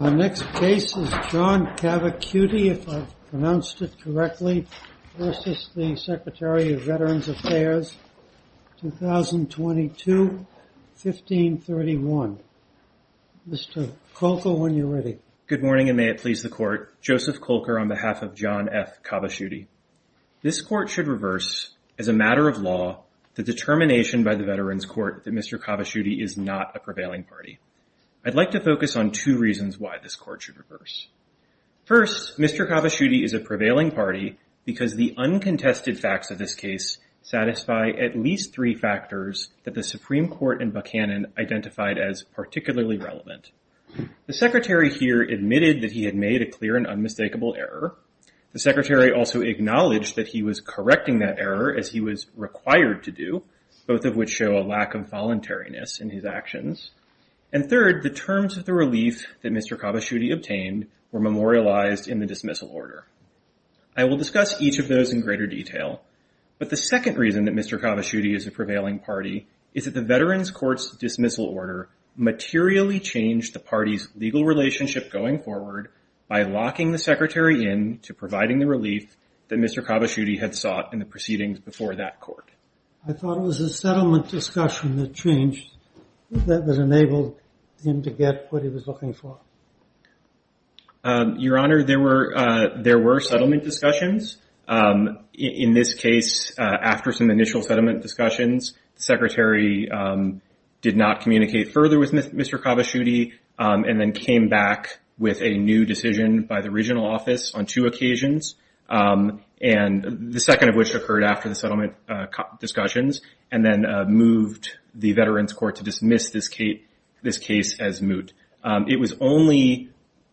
John F. Cavaciuti v. Secretary of Veterans Affairs, 2022-1531 Good morning and may it please the Court, Joseph Kolker on behalf of John F. Cavaciuti. This Court should reverse, as a matter of law, the determination by the Veterans Court that Mr. Cavaciuti is not a prevailing party. I'd like to focus on two reasons why this Court should reverse. First, Mr. Cavaciuti is a prevailing party because the uncontested facts of this case satisfy at least three factors that the Supreme Court in Buchanan identified as particularly relevant. The Secretary here admitted that he had made a clear and unmistakable error. The Secretary also acknowledged that he was correcting that error, as he was required to do, both of which show a lack of voluntariness in his actions. And third, the terms of the relief that Mr. Cavaciuti obtained were memorialized in the dismissal order. I will discuss each of those in greater detail. But the second reason that Mr. Cavaciuti is a prevailing party is that the Veterans Court's dismissal order materially changed the party's legal relationship going forward by locking the Secretary in to providing the relief that Mr. Cavaciuti had sought in the proceedings before that Court. I thought it was the settlement discussion that changed, that enabled him to get what he was looking for. Your Honor, there were settlement discussions. In this case, after some initial settlement discussions, the Secretary did not communicate further with Mr. Cavaciuti and then came back with a new decision by the regional office on two occasions, the second of which occurred after the settlement discussions, and then moved the Veterans Court to dismiss this case as moot. It was only,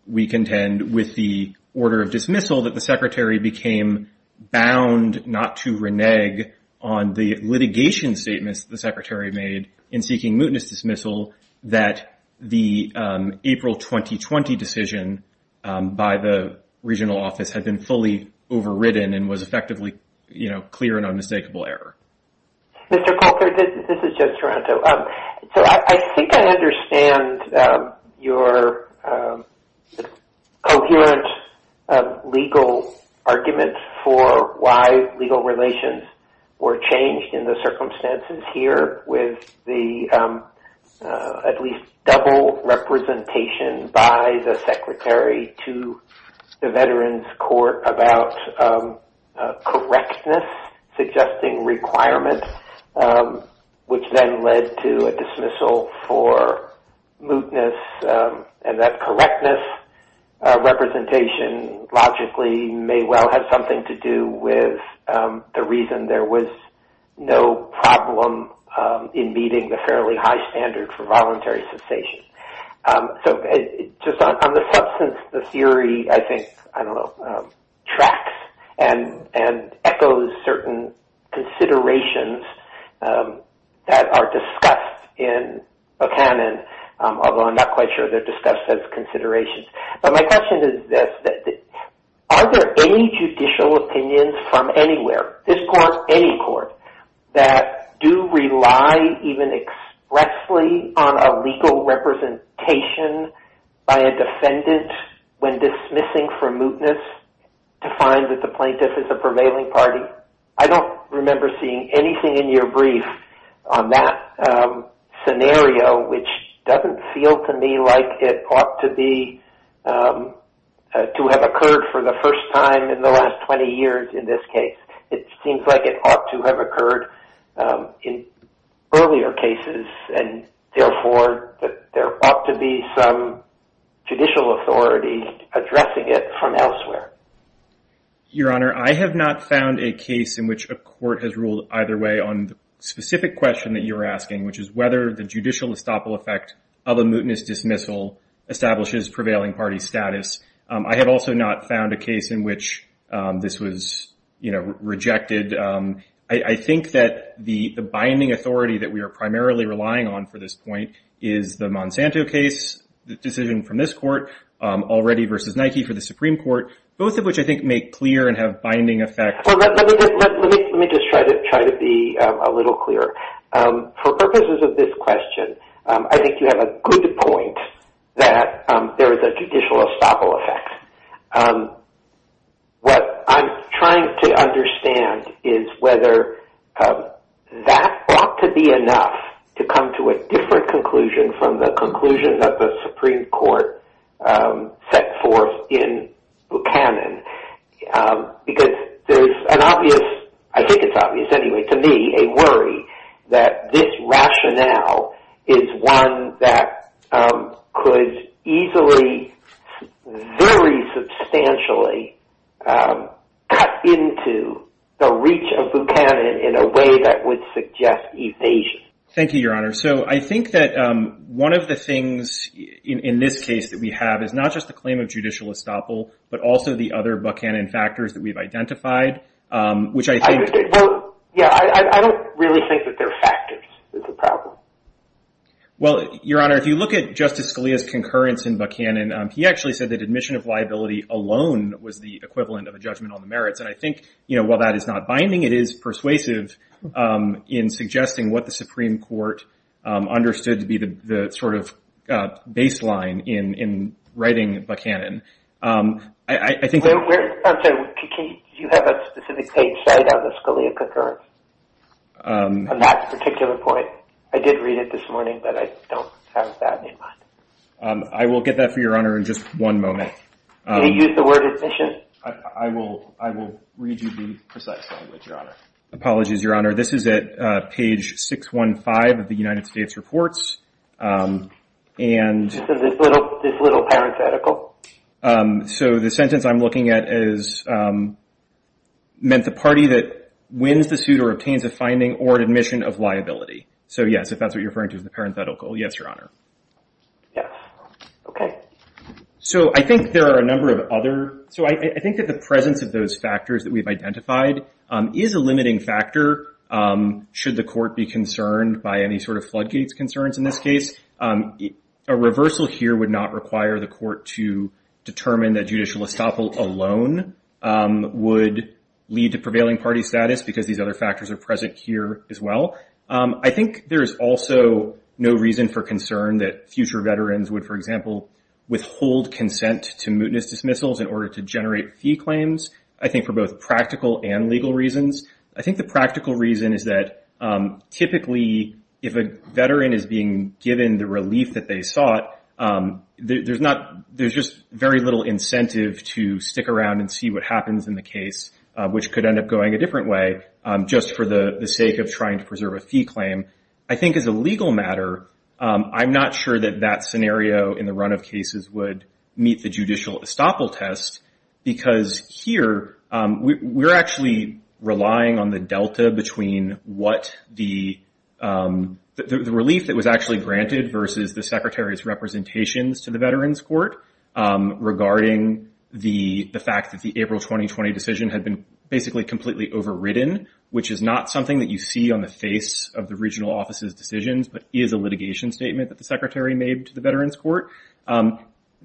we contend, with the order of dismissal that the Secretary became bound not to renege on the litigation statements the Secretary made in seeking mootness dismissal that the April 2020 decision by the regional office had been fully overridden and was effectively clear and unmistakable error. Mr. Coulter, this is Joe Toronto. So, I think I understand your coherent legal argument for why legal relations were changed in the circumstances here with the at least double representation by the Secretary to the Veterans Court about correctness, suggesting requirements, which then led to a dismissal for mootness and that correctness representation logically may well have something to do with the reason there was no problem in meeting the fairly high standard for voluntary cessation. So, just on the substance, the theory, I think, I don't know, tracks and echoes certain considerations that are discussed in a canon, although I'm not quite sure they're discussed as considerations. But my question is this. Are there any judicial opinions from anywhere, this court, any court, that do rely even expressly on a legal representation by a defendant when dismissing for mootness to find that the plaintiff is a prevailing party? I don't remember seeing anything in your brief on that scenario, which doesn't feel to me like it ought to have occurred for the first time in the last 20 years in this case. It seems like it ought to have occurred in earlier cases and, therefore, that there ought to be some judicial authority addressing it from elsewhere. Your Honor, I have not found a case in which a court has ruled either way on the specific question that you're asking, which is whether the judicial estoppel effect of a mootness dismissal establishes prevailing party status. I have also not found a case in which this was rejected. I think that the binding authority that we are primarily relying on for this point is the Monsanto case, the decision from this court, already versus Nike for the Supreme Court, both of which, I think, make clear and have binding effect. Let me just try to be a little clearer. For purposes of this question, I think you have a good point that there is a judicial estoppel effect. What I'm trying to understand is whether that ought to be enough to come to a different conclusion from the conclusion that the Supreme Court set forth in Buchanan. Because there's an obvious, I think it's obvious anyway, to me, a worry that this rationale is one that could easily, very substantially, cut into the reach of Buchanan in a way that would suggest evasion. Thank you, Your Honor. I think that one of the things in this case that we have is not just the claim of judicial estoppel, but also the other Buchanan factors that we've identified. I don't really think that they're factors. It's a problem. Your Honor, if you look at Justice Scalia's concurrence in Buchanan, he actually said that admission of liability alone was the equivalent of a judgment on the merits. I think while that is not binding, it is persuasive in suggesting what the Supreme Court understood to be the sort of baseline in writing Buchanan. I think... I'm sorry. Do you have a specific page cited on the Scalia concurrence on that particular point? I did read it this morning, but I don't have that in mind. I will get that for Your Honor in just one moment. Can you use the word admission? I will read you the precise language, Your Honor. Apologies, Your Honor. This is at page 615 of the United States Reports. This little parenthetical? The sentence I'm looking at is, meant the party that wins the suit or obtains a finding or an admission of liability. Yes, if that's what you're referring to as the parenthetical. Yes, Your Honor. Yes. Okay. I think there are a number of other... So I think that the presence of those factors that we've identified is a limiting factor should the court be concerned by any sort of floodgates concerns in this case. A reversal here would not require the court to determine that judicial estoppel alone would lead to prevailing party status because these other factors are present here as well. I think there is also no reason for concern that future veterans would, for example, withhold consent to mootness dismissals in order to generate fee claims. I think for both practical and legal reasons. I think the practical reason is that typically if a veteran is being given the relief that they sought, there's just very little incentive to stick around and see what happens in the case, which could end up going a different way just for the sake of trying to preserve a fee claim. I think as a legal matter, I'm not sure that that scenario in the run of cases would meet the judicial estoppel test because here, we're actually relying on the delta between what the relief that was actually granted versus the secretary's representations to the veterans court regarding the fact that the April 2020 decision had been basically completely overridden, which is not something that you see on the face of the regional office's decisions, but is a litigation statement that the secretary made to the veterans court.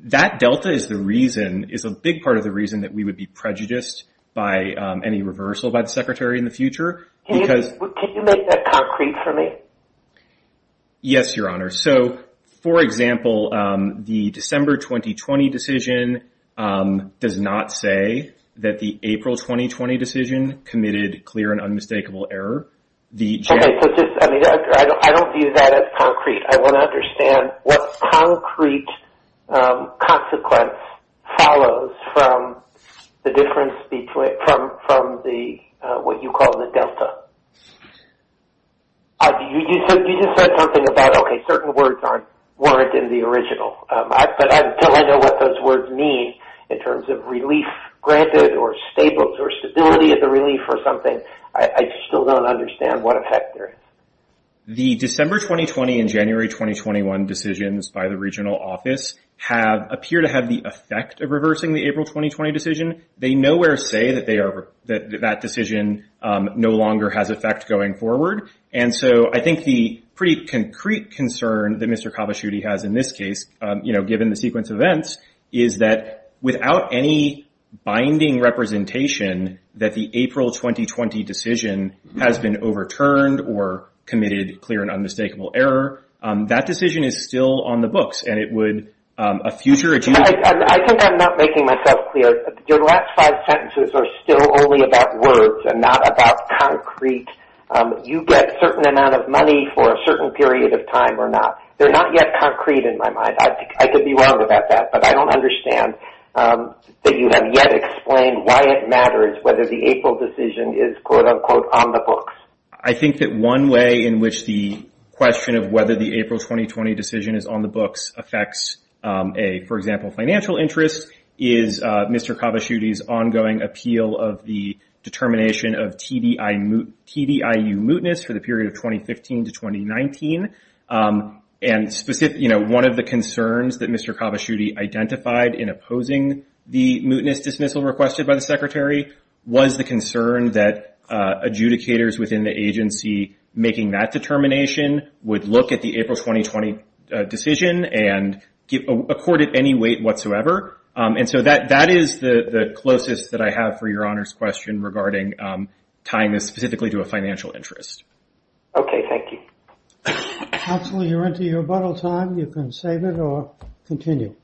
That delta is the reason, is a big part of the reason that we would be prejudiced by any reversal by the secretary in the future because... Can you make that concrete for me? Yes, Your Honor. So, for example, the December 2020 decision does not say that the April 2020 decision committed clear and unmistakable error. I don't view that as concrete. I want to understand what concrete consequence follows from the difference from what you call the delta. You just said something about, okay, certain words weren't in the original, but until I know what those words mean in terms of relief granted or stability of the relief or something, I still don't understand what effect there is. The December 2020 and January 2021 decisions by the regional office appear to have the effect of reversing the April 2020 decision. They nowhere say that that decision no longer has effect going forward. And so I think the pretty concrete concern that Mr. Kabashudi has in this case, given the sequence of events, is that without any binding representation that the April 2020 decision has been overturned or committed clear and unmistakable error. That decision is still on the books and it would... I think I'm not making myself clear. Your last five sentences are still only about words and not about concrete. You get a certain amount of money for a certain period of time or not. They're not yet concrete in my mind. I could be wrong about that, but I don't understand that you have yet explained why it matters whether the April decision is, quote unquote, on the books. I think that one way in which the question of whether the April 2020 decision is on the books affects a, for example, financial interest, is Mr. Kabashudi's ongoing appeal of the determination of TDIU mootness for the period of 2015 to 2019. And one of the concerns that Mr. Kabashudi identified in opposing the mootness dismissal requested by the Secretary was the concern that adjudicators within the agency making that determination would look at the April 2020 decision and accord it any weight whatsoever. And so that is the closest that I have for Your Honor's question regarding tying this specifically to a financial interest. Okay, thank you. Counselor, you're into your rebuttal time. You can save it or continue.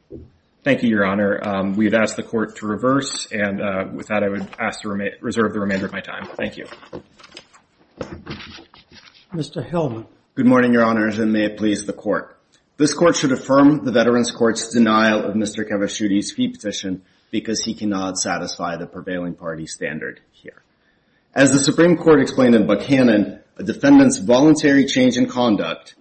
Thank you, Your Honor. We've asked the Court to reverse, and with that, I would ask to reserve the remainder of my time. Thank you. Mr. Hillman. Good morning, Your Honor, and may it please the Court. This Court should affirm the Veterans Court's denial of Mr. Kabashudi's fee petition because he cannot satisfy the prevailing party standard here. As the Supreme Court explained in Buchanan, a defendant's voluntary change in conduct,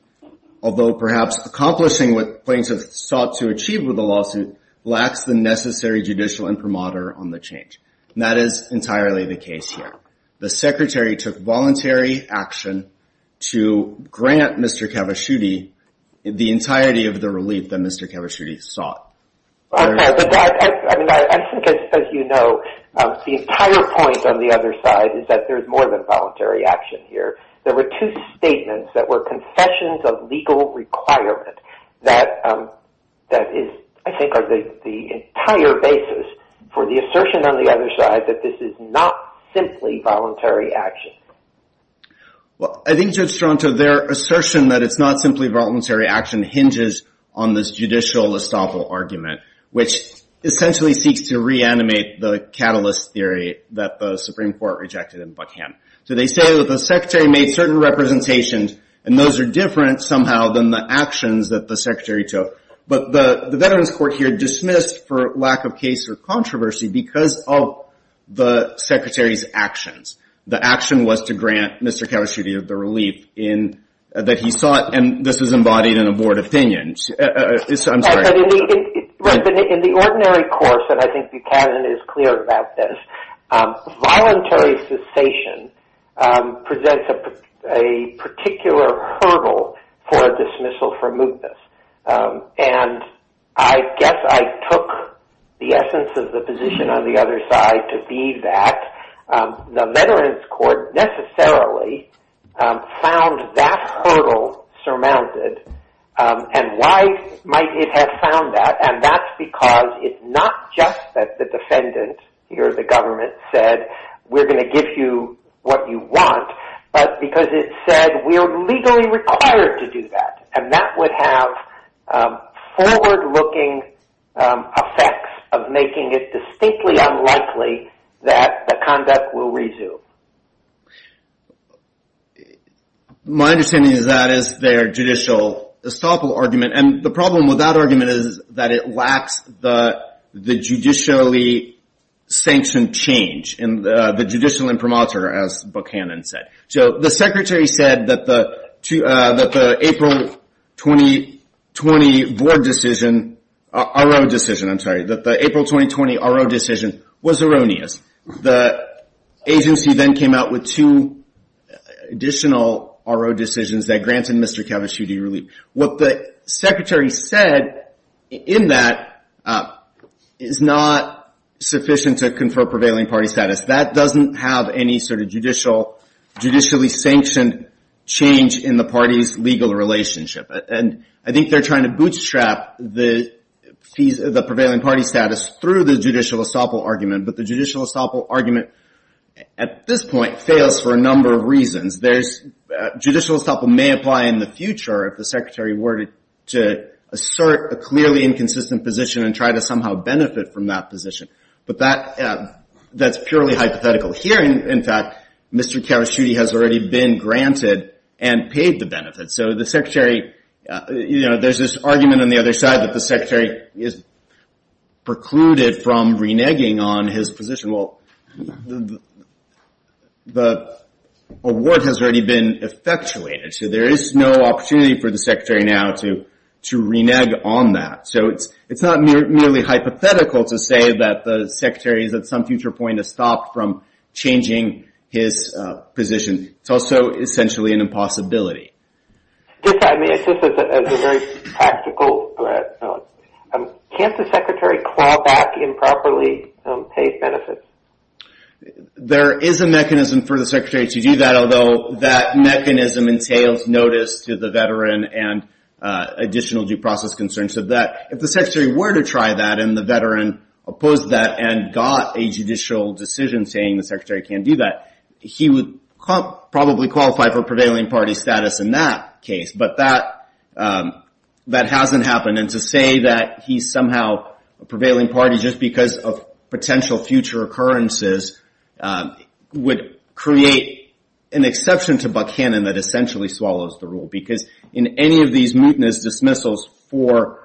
although perhaps accomplishing what plaintiffs sought to achieve with the lawsuit, lacks the necessary judicial imprimatur on the change. And that is entirely the case here. The Secretary took voluntary action to grant Mr. Kabashudi the entirety of the relief that Mr. Kabashudi sought. I think, as you know, the entire point on the other side is that there's more than voluntary action here. There were two statements that were confessions of legal requirement that is, I think, the entire basis for the assertion on the other side that this is not simply voluntary action. Well, I think, Judge Stronto, their assertion that it's not simply voluntary action hinges on this judicial estoppel argument, which essentially seeks to reanimate the catalyst theory that the Supreme Court rejected in Buchanan. So they say that the Secretary made certain representations and those are different somehow than the actions that the Secretary took. But the Veterans Court here dismissed, for lack of case or controversy, because of the Secretary's actions. The action was to grant Mr. Kabashudi the relief that he sought and this is embodied in a board opinion. In the ordinary course, and I think Buchanan is clear about this, voluntary cessation presents a particular hurdle for a dismissal from mootness. And I guess I took the essence of the position on the other side to be that the Veterans Court necessarily found that hurdle surmounted and why might it have found that? And that's because it's not just that the defendant or the government said, we're going to give you what you want, but because it said we are legally required to do that. And that would have forward-looking effects of making it distinctly unlikely that the conduct will resume. My understanding is that is their judicial estoppel argument. And the problem with that argument is that it lacks the judicially sanctioned change in the judicial imprimatur, as Buchanan said. So the Secretary said that the April 2020 RO decision was erroneous. The agency then came out with two additional RO decisions that granted Mr. Kabashudi relief. What the Secretary said in that is not sufficient to confer prevailing party status. That doesn't have any sort of judicially sanctioned change in the party's legal relationship. And I think they're trying to bootstrap the prevailing party status through the judicial estoppel argument. But the judicial estoppel argument, at this point, fails for a number of reasons. Judicial estoppel may apply in the future if the Secretary were to assert a clearly inconsistent position and try to somehow benefit from that position. But that's purely hypothetical. Here, in fact, Mr. Kabashudi has already been granted and paid the benefit. So there's this argument on the other side that the Secretary is precluded from reneging on his position. Well, the award has already been effectuated. So there is no opportunity for the Secretary now to renege on that. So it's not merely hypothetical to say that the Secretary at some future point has stopped from changing his position. It's also essentially an impossibility. Just as a very practical question, can't the Secretary claw back improperly paid benefits? There is a mechanism for the Secretary to do that, although that mechanism entails notice to the veteran and additional due process concerns of that. If the Secretary were to try that and the veteran opposed that and got a judicial decision saying the Secretary can't do that, he would probably qualify for prevailing party status in that case. But that hasn't happened. And to say that he's somehow a prevailing party just because of potential future occurrences would create an exception to Buckhannon that essentially swallows the rule. Because in any of these mutinous dismissals for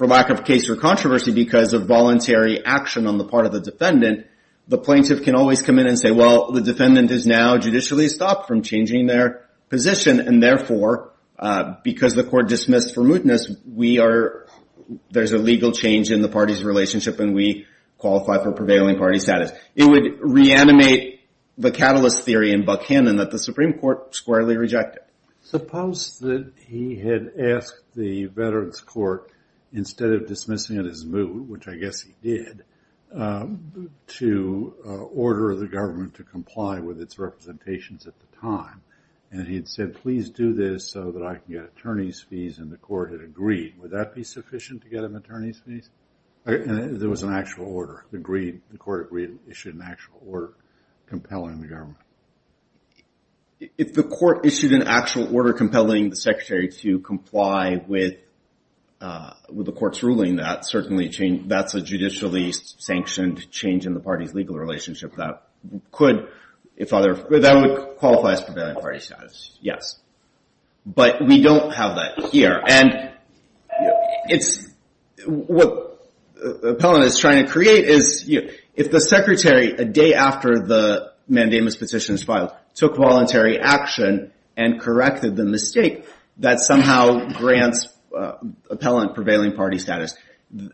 lack of case or controversy because of voluntary action on the part of the defendant, the plaintiff can always come in and say, well, the defendant has now judicially stopped from changing their position, and therefore, because the court dismissed for mootness, there's a legal change in the party's relationship and we qualify for prevailing party status. It would reanimate the catalyst theory in Buckhannon that the Supreme Court squarely rejected. Suppose that he had asked the Veterans Court, instead of dismissing it as moot, which I guess he did, to order the government to comply with its representations at the time, and he had said, please do this so that I can get attorney's fees, and the court had agreed. Would that be sufficient to get him attorney's fees? There was an actual order. The court agreed and issued an actual order compelling the government. If the court issued an actual order compelling the secretary to comply with the court's ruling, that's a judicially sanctioned change in the party's legal relationship that would qualify as prevailing party status, yes. But we don't have that here. What Appellant is trying to create is, if the secretary, a day after the mandamus petition is filed, took voluntary action and corrected the mistake that somehow grants Appellant prevailing party status,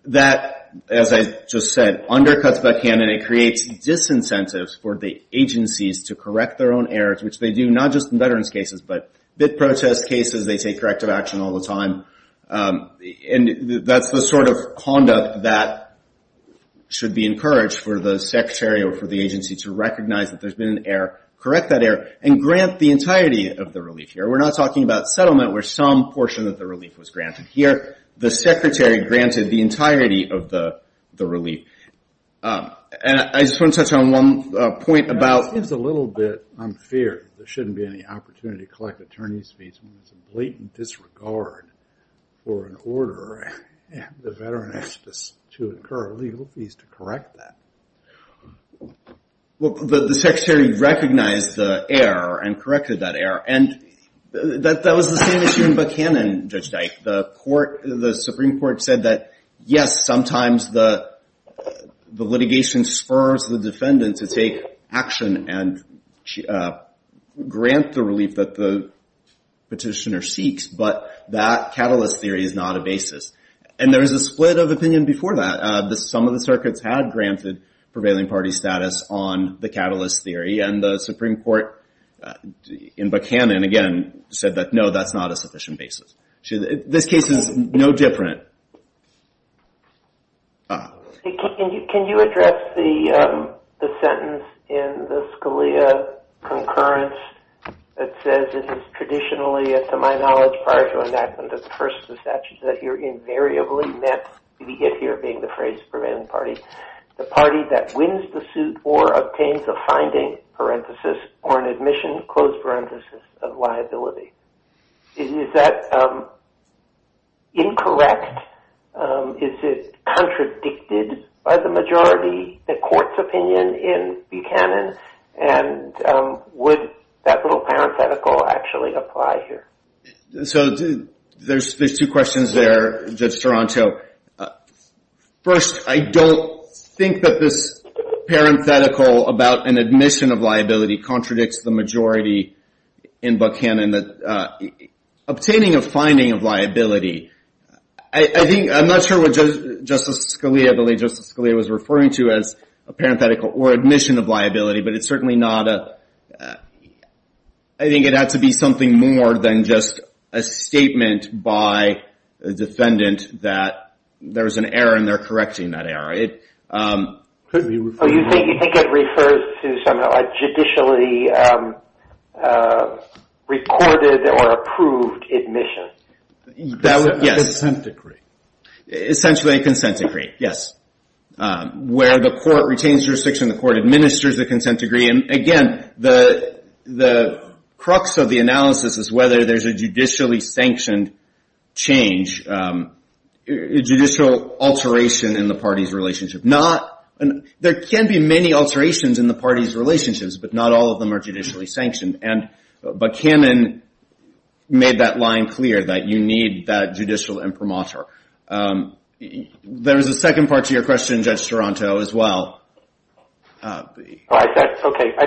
that, as I just said, undercuts Buckhannon. And it creates disincentives for the agencies to correct their own errors, which they do not just in veterans cases, but BIT protest cases, they take corrective action all the time. And that's the sort of conduct that should be encouraged for the secretary or for the agency to recognize that there's been an error, correct that error, and grant the entirety of the relief here. We're not talking about settlement, where some portion of the relief was granted. Here, the secretary granted the entirety of the relief. And I just want to touch on one point about... It seems a little bit unfair that there shouldn't be any opportunity to collect attorney's fees when there's a blatant disregard for an order, and the veteran has to incur legal fees to correct that. Well, the secretary recognized the error and corrected that error. And that was the same issue in Buckhannon, Judge Dyke. The Supreme Court said that, yes, sometimes the litigation spurs the defendant to take action and grant the relief that the petitioner seeks, but that catalyst theory is not a basis. And there was a split of opinion before that. Some of the circuits had granted prevailing party status on the catalyst theory, and the Supreme Court in Buckhannon, again, said that, no, that's not a sufficient basis. This case is no different. Can you address the sentence in the Scalia concurrence that says it is traditionally, to my knowledge, prior to enactment of the first statute, that you're invariably met, the if here being the phrase prevailing party, the party that wins the suit or obtains a finding, parenthesis, or an admission, closed parenthesis, of liability. Is that incorrect? Is it contradicted by the majority, the court's opinion in Buckhannon? And would that little parenthetical actually apply here? So there's two questions there, Judge Toronto. First, I don't think that this parenthetical about an admission of liability contradicts the majority in Buckhannon. Obtaining a finding of liability, I think, I'm not sure what Justice Scalia, I believe Justice Scalia was referring to as a parenthetical or admission of liability, but it's certainly not a, I think it had to be something more than just a statement by a defendant that there's an error and they're correcting that error. It could be. So you think it refers to somehow a judicially recorded or approved admission? Consent decree. Essentially a consent decree, yes. Where the court retains jurisdiction, the court administers a consent decree. And again, the crux of the analysis is whether there's a judicially sanctioned change, judicial alteration in the party's relationship. There can be many alterations in the party's relationships, but not all of them are judicially sanctioned. And Buckhannon made that line clear, that you need that judicial imprimatur. There's a second part to your question, Judge Toronto, as well. Okay, I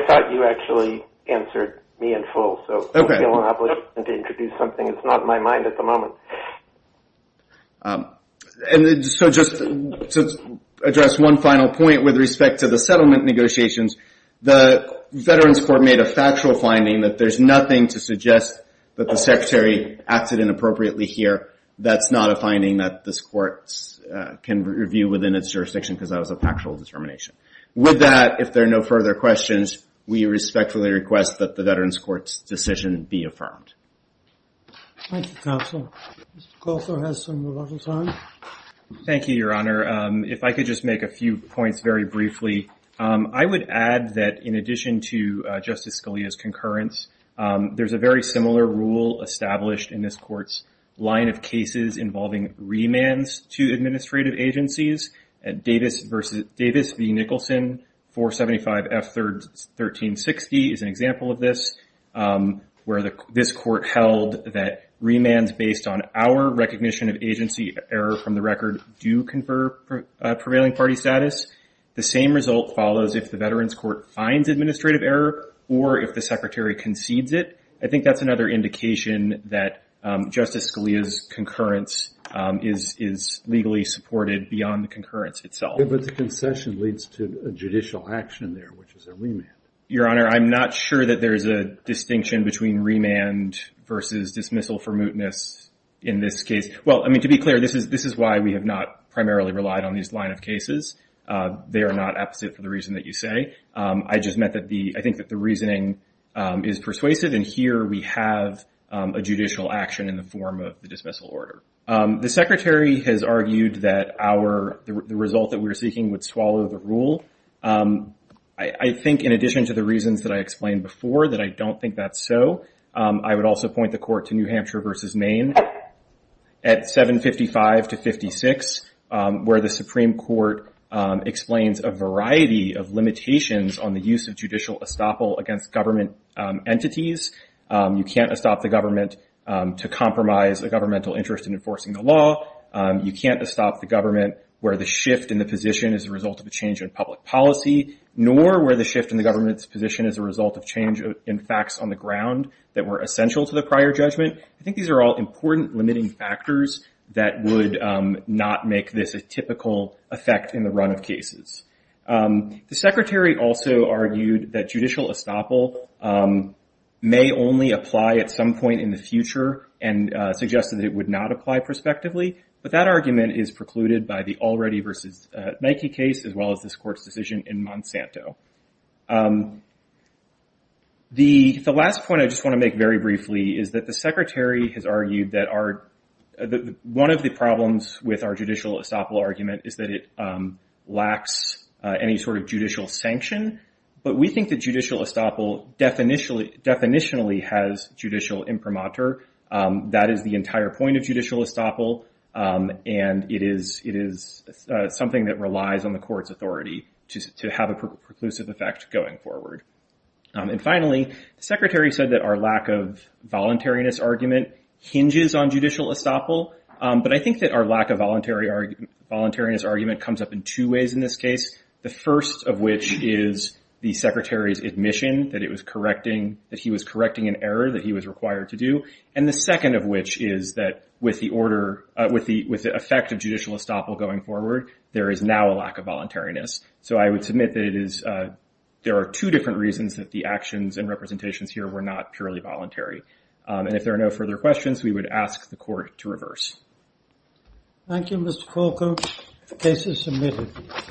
thought you actually answered me in full. Okay. It's not in my mind at the moment. So just to address one final point with respect to the settlement negotiations, the Veterans Court made a factual finding that there's nothing to suggest that the Secretary acted inappropriately here. That's not a finding that this court can review within its jurisdiction because that was a factual determination. With that, if there are no further questions, we respectfully request that the Veterans Court's decision be affirmed. Thank you, Counselor. Counselor has some rebuttal time. Thank you, Your Honor. If I could just make a few points very briefly. I would add that, in addition to Justice Scalia's concurrence, there's a very similar rule established in this court's line of cases involving remands to administrative agencies. Davis v. Nicholson, 475 F. 1360, is an example of this, where this court held that remands based on our recognition of agency error from the record do confer prevailing party status. The same result follows if the Veterans Court finds administrative error or if the Secretary concedes it. I think that's another indication that Justice Scalia's concurrence is legally supported beyond the concurrence itself. But the concession leads to a judicial action there, which is a remand. Your Honor, I'm not sure that there's a distinction between remand versus dismissal for mootness in this case. Well, I mean, to be clear, this is why we have not primarily relied on these line of cases. They are not apposite for the reason that you say. I just meant that the... I think that the reasoning is persuasive, and here we have a judicial action in the form of the dismissal order. The Secretary has argued that our... the result that we're seeking would swallow the rule. I think, in addition to the reasons that I explained before, that I don't think that's so, I would also point the court to New Hampshire v. Maine. At 755-56, where the Supreme Court explains a variety of limitations on the use of judicial estoppel against government entities. You can't estop the government to compromise a governmental interest in enforcing the law. You can't estop the government where the shift in the position is a result of a change in public policy, nor where the shift in the government's position is a result of change in facts on the ground that were essential to the prior judgment. I think these are all important limiting factors that would not make this a typical effect in the run of cases. The Secretary also argued that judicial estoppel may only apply at some point in the future and suggested that it would not apply prospectively, but that argument is precluded by the Already v. Nike case, as well as this Court's decision in Monsanto. The last point I just want to make very briefly is that the Secretary has argued that one of the problems with our judicial estoppel argument is that it lacks any sort of judicial sanction, but we think that judicial estoppel definitionally has judicial imprimatur. That is the entire point of judicial estoppel, and it is something that relies on the Court's authority to have a preclusive effect going forward. And finally, the Secretary said that our lack of voluntariness argument hinges on judicial estoppel, but I think that our lack of voluntariness argument comes up in two ways in this case, the first of which is the Secretary's admission that he was correcting an error that he was required to do, and the second of which is that with the effect of judicial estoppel going forward, there is now a lack of voluntariness. So I would submit that there are two different reasons that the actions and representations here were not purely voluntary. And if there are no further questions, we would ask the Court to reverse. Thank you, Mr. Corker. The case is submitted.